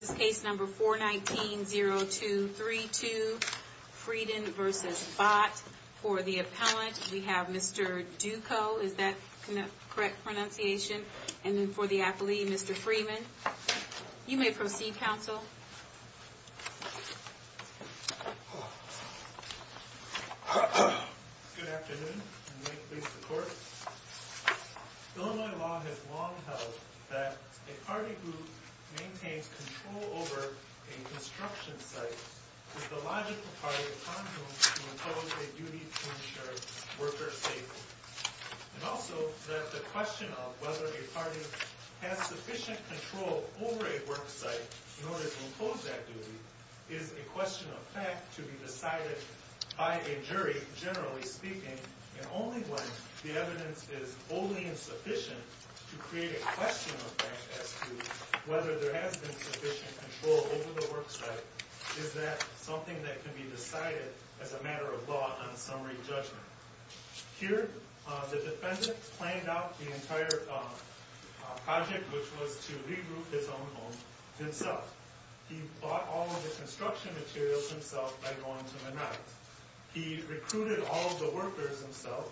This case number 419-0232, Frieden v. Bott, for the appellant, we have Mr. Duco, is that the correct pronunciation? And then for the applee, Mr. Freeman. You may proceed, counsel. Good afternoon, and may it please the Court. Illinois law has long held that a party who maintains control over a construction site is the logical party of condom to impose a duty to ensure worker safety. And also that the question of whether a party has sufficient control over a work site in order to impose that duty is a question of fact to be decided by a jury, generally speaking, and only when the evidence is wholly insufficient to create a question of fact as to whether there has been sufficient control over the work site is that something that can be decided as a matter of law on summary judgment. Here, the defendant planned out the entire project, which was to regroup his own home himself. He bought all of the construction materials himself by going to the night. He recruited all of the workers himself.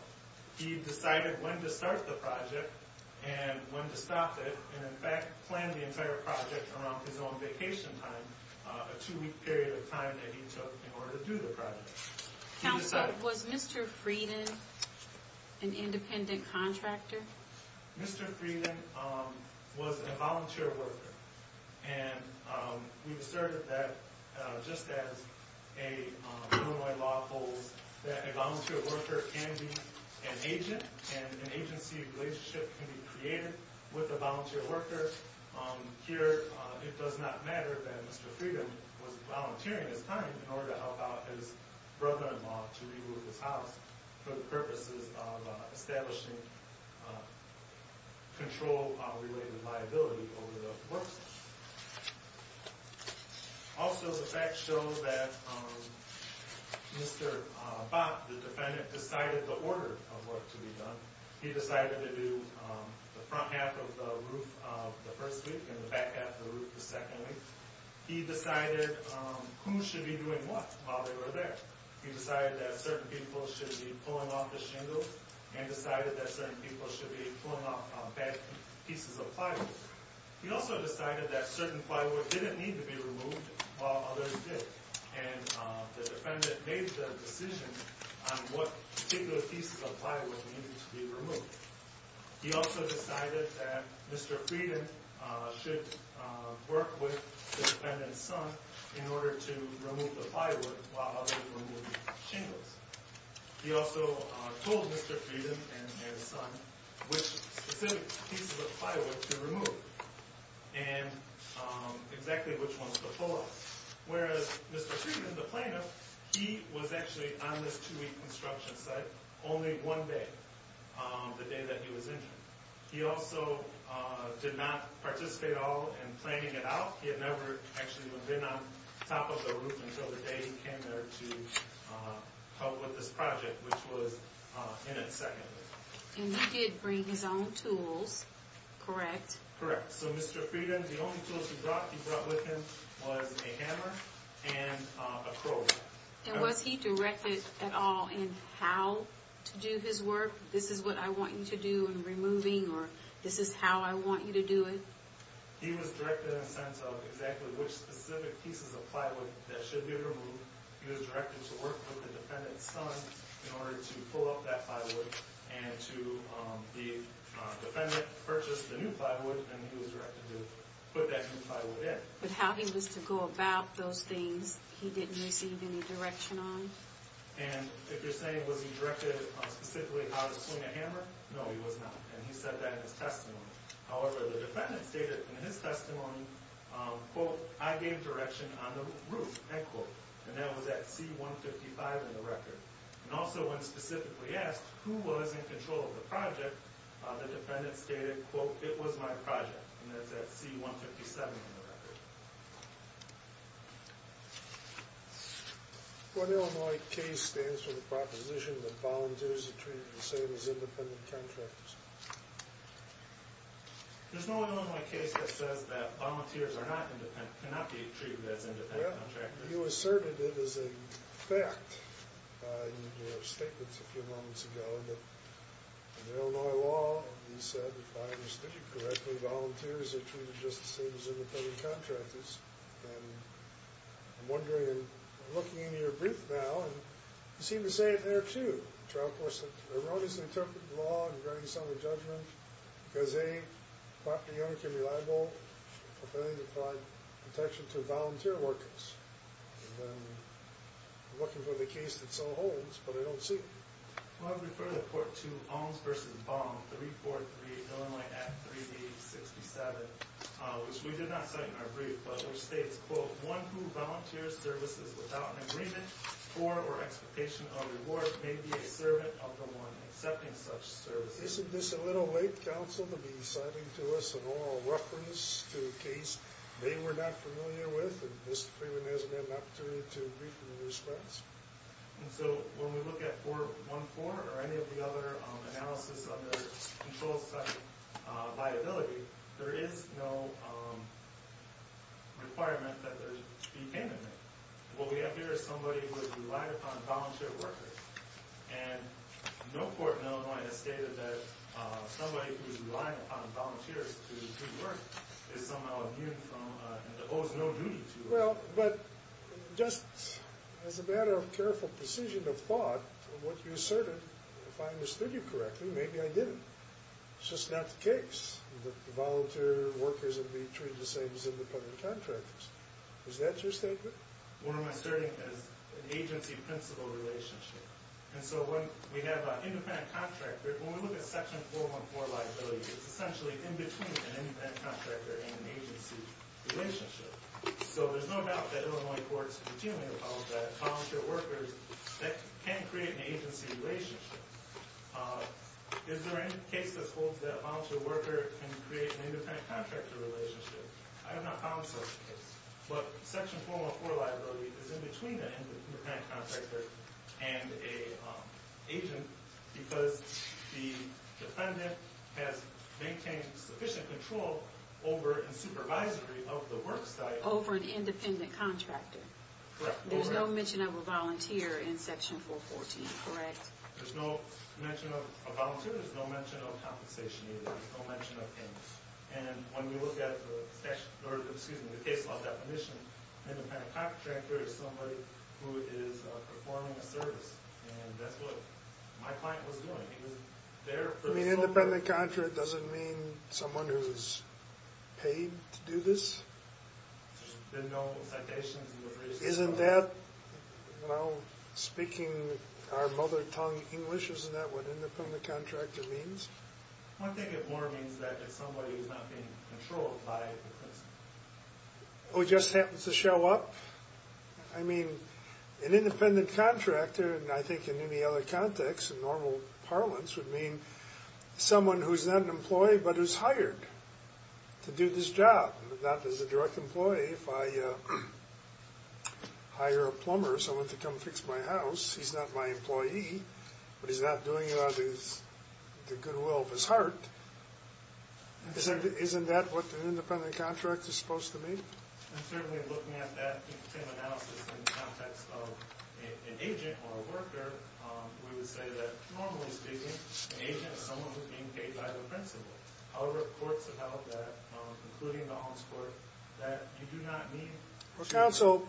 He decided when to start the project and when to stop it, and in fact planned the entire project around his own vacation time, a two-week period of time that he took in order to do the project. Counsel, was Mr. Frieden an independent contractor? Mr. Frieden was a volunteer worker. And we've asserted that just as a Illinois law holds that a volunteer worker can be an agent and an agency relationship can be created with a volunteer worker, here it does not matter that Mr. Frieden was volunteering his time in order to help out his brother-in-law to regroup his house for the purposes of establishing control-related liability over the work site. Also, the fact shows that Mr. Bott, the defendant, decided the order of work to be done. He decided to do the front half of the roof the first week and the back half of the roof the second week. He decided who should be doing what while they were there. He decided that certain people should be pulling off the shingles and decided that certain people should be pulling off bad pieces of plywood. He also decided that certain plywood didn't need to be removed while others did. And the defendant made the decision on what particular pieces of plywood needed to be removed. He also decided that Mr. Frieden should work with the defendant's son in order to remove the plywood while others removed the shingles. He also told Mr. Frieden and his son which specific pieces of plywood to remove and exactly which ones to pull off. Whereas Mr. Frieden, the plaintiff, he was actually on this two-week construction site only one day, the day that he was injured. He also did not participate at all in planning it out. He had never actually been on top of the roof until the day he came there to help with this project, which was in its second week. And he did bring his own tools, correct? Correct. So Mr. Frieden, the only tools he brought with him was a hammer and a crowbar. And was he directed at all in how to do his work? This is what I want you to do in removing or this is how I want you to do it? He was directed in the sense of exactly which specific pieces of plywood that should be removed. He was directed to work with the defendant's son in order to pull off that plywood and to the defendant purchase the new plywood and he was directed to put that new plywood in. But how he was to go about those things, he didn't receive any direction on? And if you're saying was he directed specifically how to swing a hammer, no he was not. And he said that in his testimony. However, the defendant stated in his testimony, quote, I gave direction on the roof, end quote. And that was at C-155 in the record. And also when specifically asked who was in control of the project, the defendant stated, quote, it was my project. And that's at C-157 in the record. One Illinois case stands for the proposition that volunteers are treated the same as independent contractors. There's no Illinois case that says that volunteers cannot be treated as independent contractors. Well, you asserted it as a fact in your statements a few moments ago. In the Illinois law, you said, if I understood you correctly, volunteers are treated just the same as independent contractors. And I'm wondering, looking into your brief now, you seem to say it there, too. Trial courts have erroneously interpreted the law and granted some a judgment because they thought the young can be liable for failing to provide protection to volunteer workers. And I'm looking for the case that so holds, but I don't see it. Well, I would refer the court to Holmes v. Baum, 343 Illinois Act 3D-67, which we did not cite in our brief, but which states, quote, one who volunteers services without an agreement for or expectation of reward may be a servant of the one accepting such services. Isn't this a little late, counsel, to be citing to us an oral reference to a case they were not familiar with and Mr. Freeman hasn't had an opportunity to brief in response? And so when we look at 414 or any of the other analysis under control section liability, there is no requirement that there be payment made. What we have here is somebody who has relied upon volunteer workers. And no court in Illinois has stated that somebody who is relying upon volunteers to do work is somehow immune from and owes no duty to. Well, but just as a matter of careful precision of thought, what you asserted, if I understood you correctly, maybe I didn't. It's just not the case that the volunteer workers would be treated the same as independent contractors. Is that your statement? What I'm asserting is an agency-principal relationship. And so when we have an independent contractor, when we look at section 414 liability, it's essentially in between an independent contractor and an agency relationship. So there's no doubt that Illinois courts routinely apologize to volunteer workers. That can create an agency relationship. Is there any case that holds that a volunteer worker can create an independent contractor relationship? I have not found such a case. But section 414 liability is in between an independent contractor and an agent because the defendant has maintained sufficient control over and supervisory of the work site. Over an independent contractor. Correct. There's no mention of a volunteer in section 414, correct? There's no mention of a volunteer. There's no mention of compensation either. There's no mention of payment. And when we look at the case law definition, an independent contractor is somebody who is performing a service. And that's what my client was doing. An independent contractor doesn't mean someone who's paid to do this? There's been no citations. Isn't that, well, speaking our mother tongue English, isn't that what independent contractor means? One thing it more means is that it's somebody who's not being controlled by the prison. Who just happens to show up? I mean, an independent contractor, and I think in any other context in normal parlance, would mean someone who's not an employee but is hired to do this job. Not as a direct employee. If I hire a plumber, someone to come fix my house, he's not my employee. But he's not doing it out of the goodwill of his heart. Isn't that what an independent contractor is supposed to mean? And certainly looking at that same analysis in the context of an agent or a worker, we would say that, normally speaking, an agent is someone who's being paid by the principal. However, courts have held that, including the alms court, that you do not need. Well, counsel,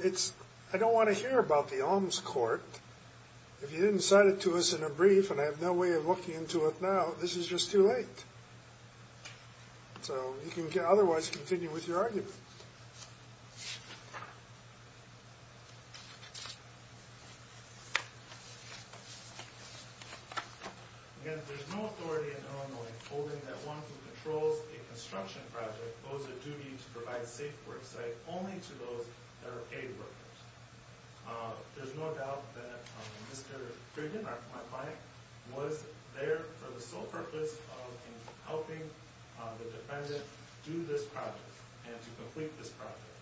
I don't want to hear about the alms court. If you didn't cite it to us in a brief and I have no way of looking into it now, this is just too late. So you can otherwise continue with your argument. Again, there's no authority in Illinois holding that one who controls a construction project owes a duty to provide a safe work site only to those that are paid workers. There's no doubt that Mr. Griggin, my client, was there for the sole purpose of helping the defendant do this project and to complete this project.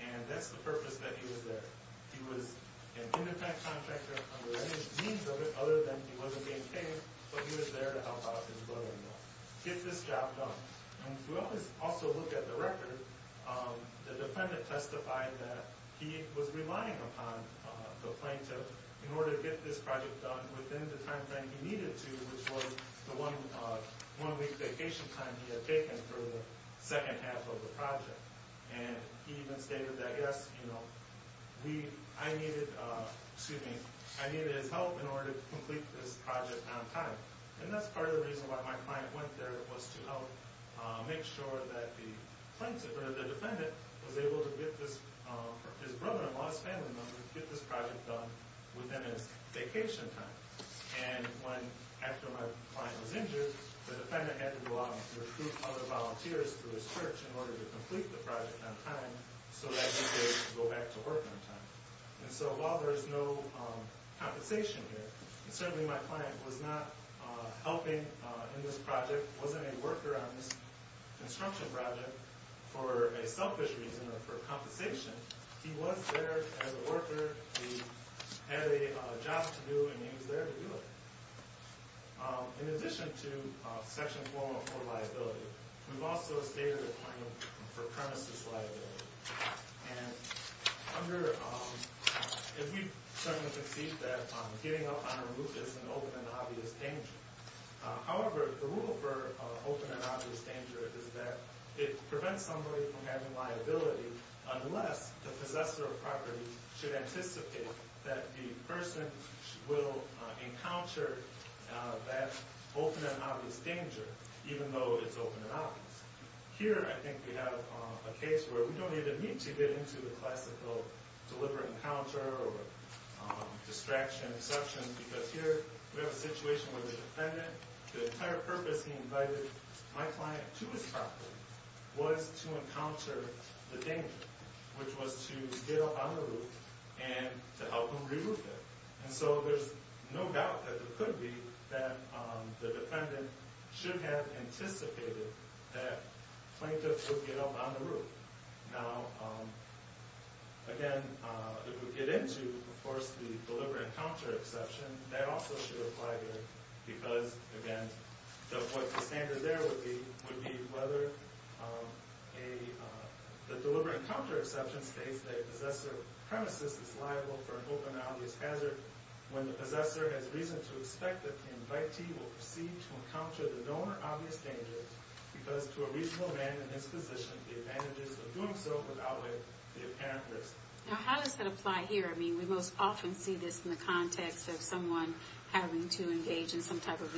And that's the purpose that he was there. He was an independent contractor under any means other than he wasn't being paid, but he was there to help out his brother-in-law get this job done. And if we also look at the record, the defendant testified that he was relying upon the plaintiff in order to get this project done within the timeframe he needed to, which was the one week vacation time he had taken for the second half of the project. And he even stated that, yes, you know, I needed his help in order to complete this project on time. And that's part of the reason why my client went there was to help make sure that the defendant was able to get his brother-in-law's family member to get this project done within his vacation time. And after my client was injured, the defendant had to go out and recruit other volunteers through his church in order to complete the project on time so that he could go back to work on time. And so while there's no compensation here, and certainly my client was not helping in this project, wasn't a worker on this construction project for a selfish reason or for compensation, he was there as a worker, he had a job to do, and he was there to do it. In addition to Section 404 liability, we've also stated a claim for premises liability. And if we certainly concede that getting up on a roof is an open and obvious danger. However, the rule for open and obvious danger is that it prevents somebody from having liability unless the possessor of property should anticipate that the person will encounter that open and obvious danger Here I think we have a case where we don't even need to get into the classical deliberate encounter or distraction, because here we have a situation where the defendant, the entire purpose he invited my client to his property was to encounter the danger, which was to get up on the roof and to help him remove it. And so there's no doubt that it could be that the defendant should have anticipated that plaintiff would get up on the roof. Now, again, if we get into, of course, the deliberate encounter exception, that also should apply here. Because, again, what the standard there would be would be whether the deliberate encounter exception states that a possessor of premises is liable for an open and obvious hazard when the possessor has reason to expect that the invitee will proceed to encounter the known or obvious danger. Because to a reasonable man in this position, the advantages of doing so would outweigh the apparent risk. Now, how does that apply here? I mean, we most often see this in the context of someone having to engage in some type of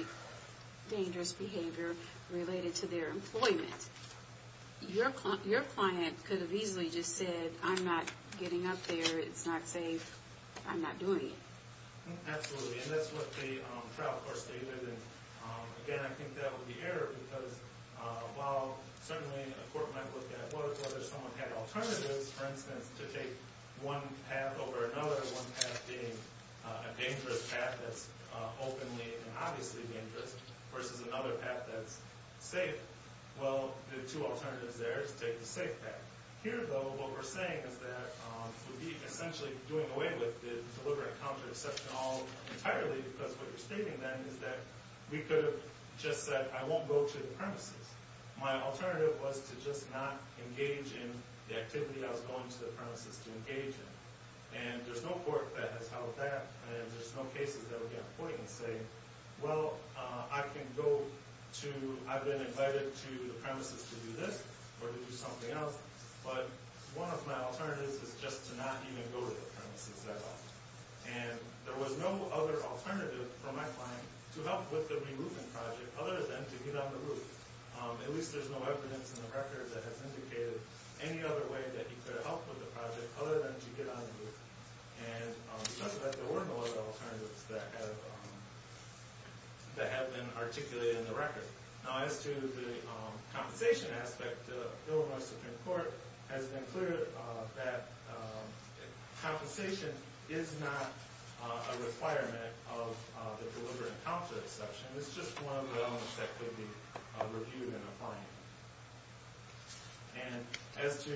dangerous behavior related to their employment. Your client could have easily just said, I'm not getting up there, it's not safe, I'm not doing it. Absolutely, and that's what the trial court stated. And, again, I think that would be error because while certainly a court might look at whether someone had alternatives, for instance, to take one path over another, one path being a dangerous path that's openly and obviously dangerous versus another path that's safe. Well, the two alternatives there is to take the safe path. Here, though, what we're saying is that would be essentially doing away with the deliberate encounter exception entirely because what you're stating then is that we could have just said, I won't go to the premises. My alternative was to just not engage in the activity I was going to the premises to engage in. And there's no court that has held that, and there's no cases that would be on the point and say, well, I can go to, I've been invited to the premises to do this or to do something else, but one of my alternatives is just to not even go to the premises at all. And there was no other alternative for my client to help with the removal project other than to get on the roof. At least there's no evidence in the record that has indicated any other way that he could have helped with the project other than to get on the roof. And it's just that there were no other alternatives that have been articulated in the record. Now, as to the compensation aspect, the bill of my Supreme Court has been clear that compensation is not a requirement of the deliberate encounter exception. It's just one of the elements that could be reviewed in a fine. And as to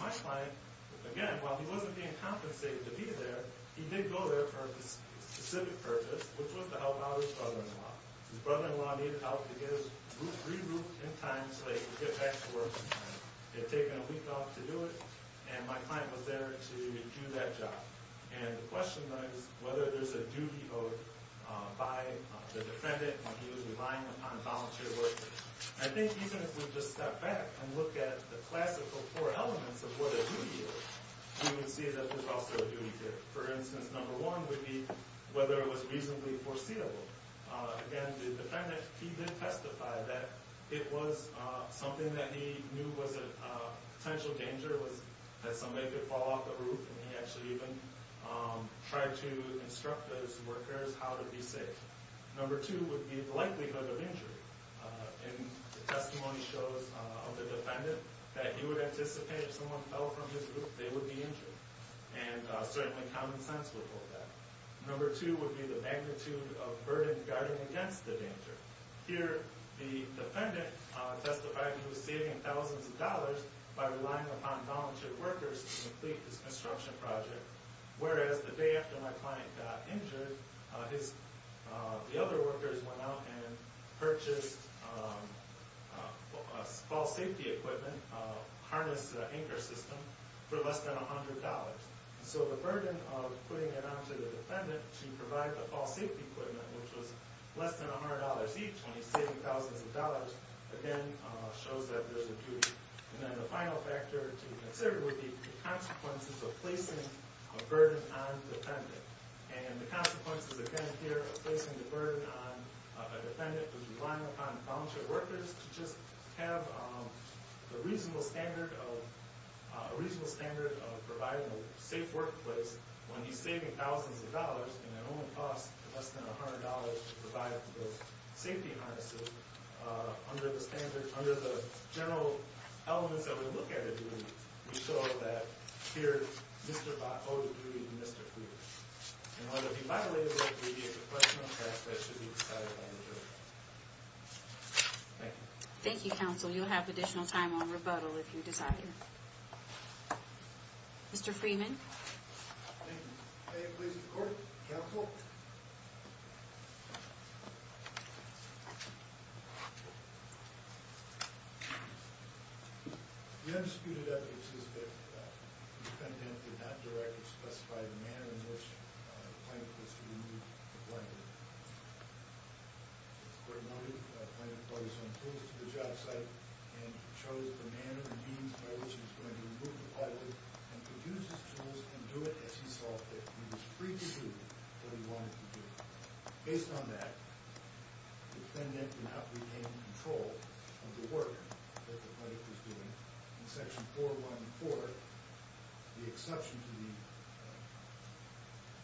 my client, again, while he wasn't being compensated to be there, he did go there for a specific purpose, which was to help out his brother-in-law. His brother-in-law needed help to get his roof re-roofed in time so they could get back to work in time. It had taken a week off to do it, and my client was there to do that job. And the question then is whether there's a duty owed by the defendant when he was relying upon a volunteer worker. I think even if we just step back and look at the classical four elements of what a duty is, we can see that there's also a duty there. For instance, number one would be whether it was reasonably foreseeable. Again, the defendant, he did testify that it was something that he knew was a potential danger, that somebody could fall off the roof, and he actually even tried to instruct those workers how to be safe. Number two would be the likelihood of injury. And the testimony shows of the defendant that he would anticipate if someone fell from his roof, they would be injured. And certainly common sense would hold that. Number two would be the magnitude of burden guarding against the danger. Here, the defendant testified he was saving thousands of dollars by relying upon volunteer workers to complete this construction project, whereas the day after my client got injured, the other workers went out and purchased fall safety equipment, harness anchor system, for less than $100. So the burden of putting it onto the defendant to provide the fall safety equipment, which was less than $100 each, when he's saving thousands of dollars, again shows that there's a duty. And then the final factor to consider would be the consequences of placing a burden on the defendant. And the consequences, again, here, of placing the burden on a defendant, was relying upon volunteer workers to just have a reasonable standard of providing a safe workplace when he's saving thousands of dollars and it only costs less than $100 to provide the safety harnesses. Under the general elements that we look at it in, we show that here, Mr. Bott owes a duty to Mr. Freeman. And whether it be violated or abbreviated, the question of that should be decided by the jury. Thank you. Thank you, counsel. You'll have additional time on rebuttal if you desire. Mr. Freeman? Thank you. May it please the court? Counsel? The undisputed evidence is that the defendant did not directly specify the manner in which the plaintiff was to remove the blanket. The court noted the plaintiff brought his own tools to the job site and chose the manner and means by which he was going to remove the blanket and produce his tools and do it as he saw fit. He was free to do what he wanted to do. Based on that, the defendant did not retain control of the work that the plaintiff was doing. In Section 414, the exception to the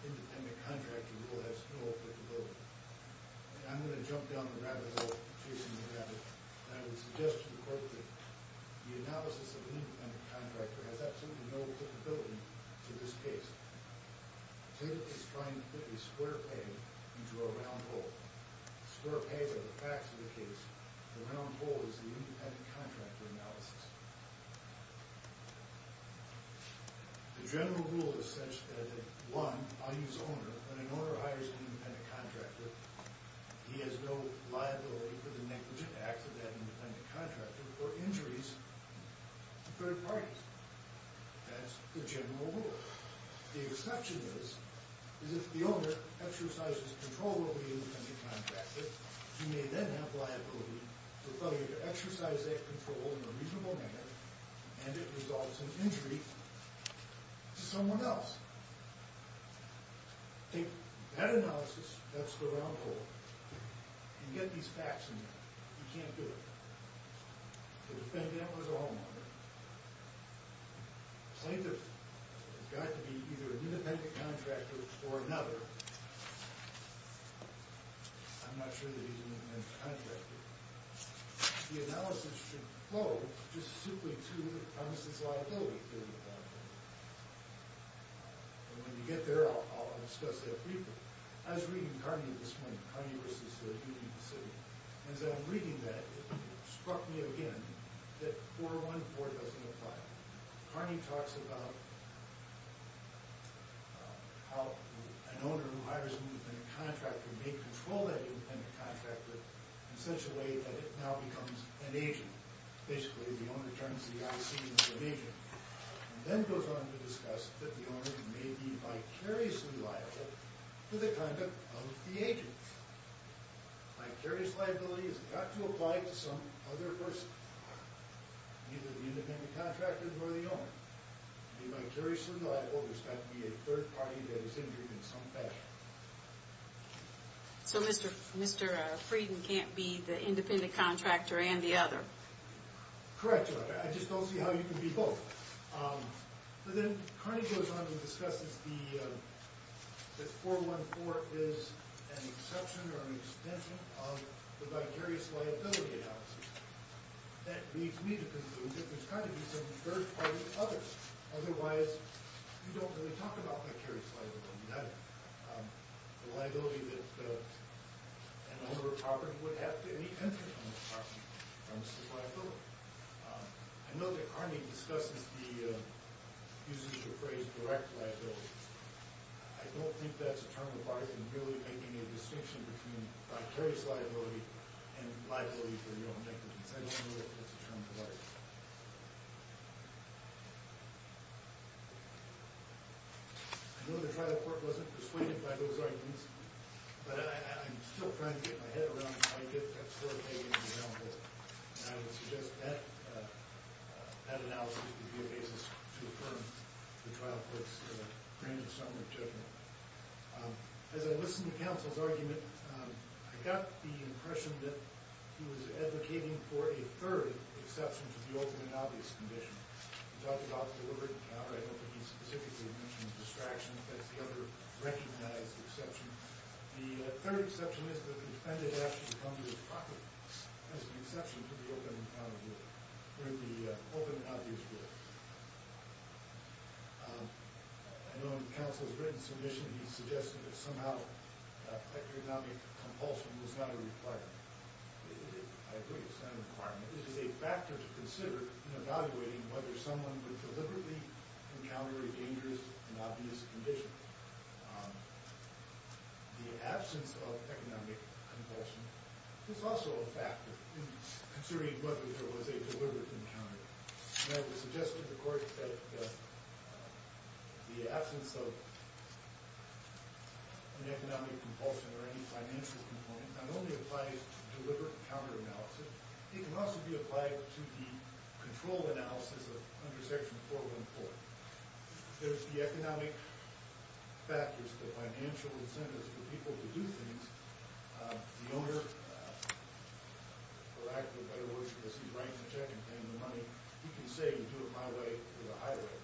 independent contractor rule has no applicability. I'm going to jump down the rabbit hole, chasing the rabbit. I would suggest to the court that the analysis of an independent contractor has absolutely no applicability to this case. The plaintiff is trying to put a square peg into a round hole. Square pegs are the facts of the case. The round hole is the independent contractor analysis. The general rule is such that, one, I use owner. When an owner hires an independent contractor, he has no liability for the negligent acts of that independent contractor or injuries to third parties. That's the general rule. The exception is, is if the owner exercises control over the independent contractor, he may then have liability for failure to exercise that control in a reasonable manner and it results in injury to someone else. Take that analysis of that square round hole and get these facts in there. You can't do it. The defendant was a homeowner. The plaintiff has got to be either an independent contractor or another. I'm not sure that he's an independent contractor. The analysis should flow just simply to the premises liability. When we get there, I'll discuss that briefly. I was reading Kearney this morning, Kearney v. Union City. As I'm reading that, it struck me again that 414 doesn't apply. Kearney talks about how an owner who hires an independent contractor may control that independent contractor in such a way that it now becomes an agent. Basically, the owner turns the I.C. into an agent and then goes on to discuss that the owner may be vicariously liable to the conduct of the agent. Vicarious liability has got to apply to some other person, either the independent contractor or the owner. To be vicariously liable, there's got to be a third party that is injured in some fashion. So Mr. Frieden can't be the independent contractor and the other? Correct. I just don't see how you can be both. But then Kearney goes on to discuss that 414 is an exception or an extension of the vicarious liability analysis. That leads me to conclude that there's got to be some third party others. Otherwise, you don't really talk about vicarious liability. The liability that an owner of property would have to any entity on the property comes from liability. I know that Kearney discusses the use of the phrase direct liability. I don't think that's a term that I can really make any distinction between vicarious liability and liability for your own negligence. I don't know if that's a term to write. I know the trial court wasn't persuaded by those arguments, but I'm still trying to get my head around the idea that that's where Kearney is now. And I would suggest that analysis would be a basis to affirm the trial court's grand summary judgment. As I listened to counsel's argument, I got the impression that he was advocating for a third exception to the open and obvious condition. He talked about deliberate encounter. I don't think he specifically mentioned distraction. That's the other recognized exception. The third exception is that the defendant has to come to his property as an exception to the open and obvious rule. I know in counsel's written submission, he suggested that somehow economic compulsion was not a requirement. I agree it's not a requirement. This is a factor to consider in evaluating whether someone would deliberately encounter a dangerous and obvious condition. The absence of economic compulsion is also a factor in considering whether there was a deliberate encounter. And I would suggest to the court that the absence of an economic compulsion or any financial component not only applies to deliberate encounter analysis, but it can also be applied to the control analysis under Section 414. There's the economic factors, the financial incentives for people to do things. The owner, for lack of a better word, because he's writing the check and paying the money, he can say, do it my way or the highway.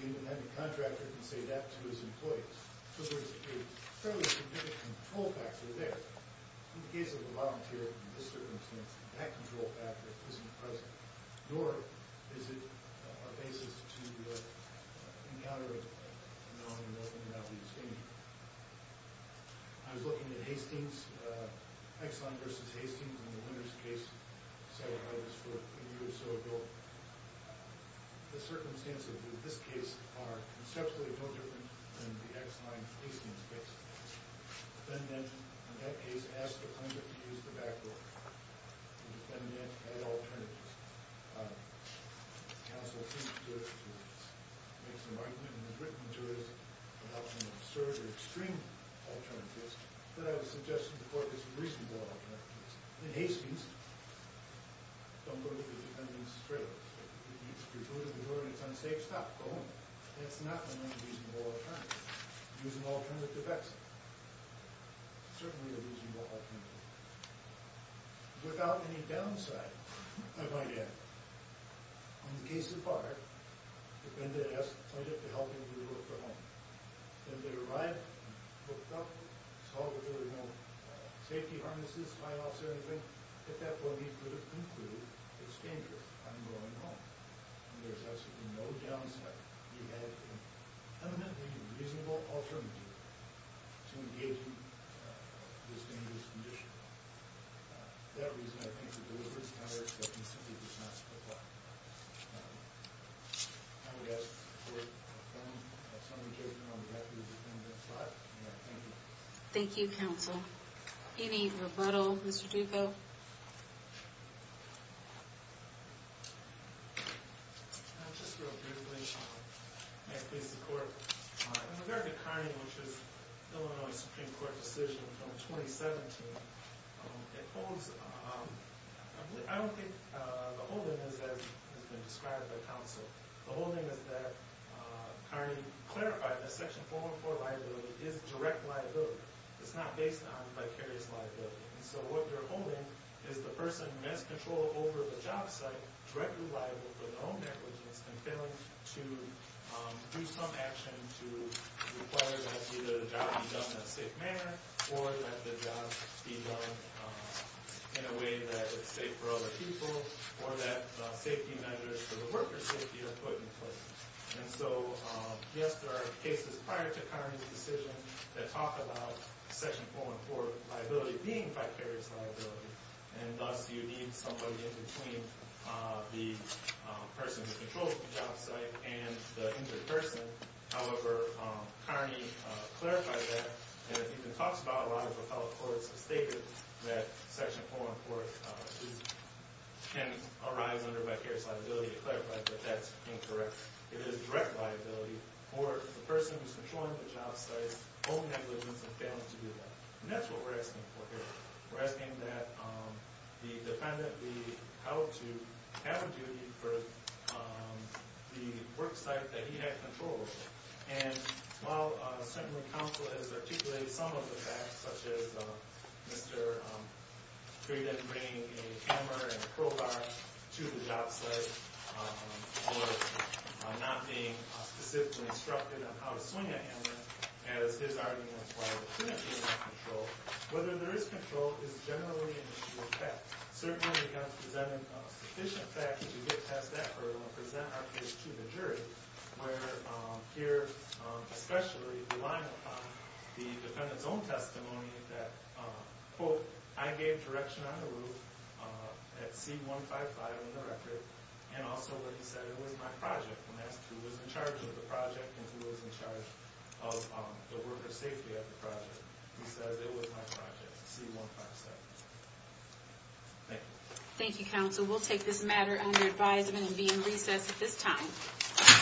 The independent contractor can say that to his employees. So there's a fairly significant control factor there. In the case of a volunteer, in this circumstance, that control factor isn't present, nor is it our basis to encounter it, knowing what the reality is going to be. I was looking at Hastings, Exline v. Hastings in the Winters case, set up by this court a year or so ago. The circumstances in this case are conceptually no different than the Exline-Hastings case. The defendant, in that case, asked the plaintiff to use the backdoor. The defendant had alternatives. The counsel seems to have made some argument and has written to us about some absurd or extreme alternatives. But I would suggest to the court that there's reasonable alternatives. In Hastings, the defendant's trailer. If you go to the door and it's unsafe, stop, go home. That's not an unreasonable alternative. It's an alternative exit. Certainly a reasonable alternative. Without any downside, I might add, in the case of Barr, the defendant asked the plaintiff to help him to look for home. Then they arrived, looked up, saw that there were no safety harnesses, fly-offs, or anything. At that point, he could have concluded, it's dangerous, I'm going home. There's absolutely no downside. He had an evidently reasonable alternative to engage in this dangerous condition. For that reason, I think the deliberate counter-exception simply does not apply. I would ask the court to confirm some of the cases on the back of the defendant's life. And I thank you. Thank you, counsel. Any rebuttal, Mr. Duco? Just real briefly, and I thank the court. In the verdict of Carney, which is the Illinois Supreme Court decision from 2017, it holds, I don't think the whole thing is as has been described by counsel. The whole thing is that Carney clarified that Section 414 liability is direct liability. It's not based on vicarious liability. So what they're holding is the person who has control over the job site directly liable for their own negligence and failing to do some action to require that either the job be done in a safe manner or that the job be done in a way that it's safe for other people or that safety measures for the worker's safety are put in place. And so, yes, there are cases prior to Carney's decision that talk about Section 414 liability being vicarious liability. And thus, you need somebody in between the person who controls the job site and the injured person. However, Carney clarified that. And it even talks about a lot of what fellow courts have stated that Section 414 can arise under vicarious liability to clarify that that's incorrect. It is direct liability for the person who's controlling the job site, own negligence, and failing to do that. And that's what we're asking for here. We're asking that the defendant be held to have a duty for the work site that he had control over. And while certainly counsel has articulated some of the facts, such as Mr. Frieden bringing a hammer and a crowbar to the job site or not being specifically instructed on how to swing a hammer, as his argument is why there shouldn't be any control, whether there is control is generally an issue of fact. Certainly, we've got to present sufficient facts to get past that hurdle and present our case to the jury, where here, especially relying upon the defendant's own testimony that, quote, I gave direction on the roof at C-155 in the record, and also where he said it was my project, and that's who was in charge of the project and who was in charge of the worker safety of the project. He says it was my project, C-155. Thank you. Thank you, counsel. We'll take this matter under advisement and be in recess at this time.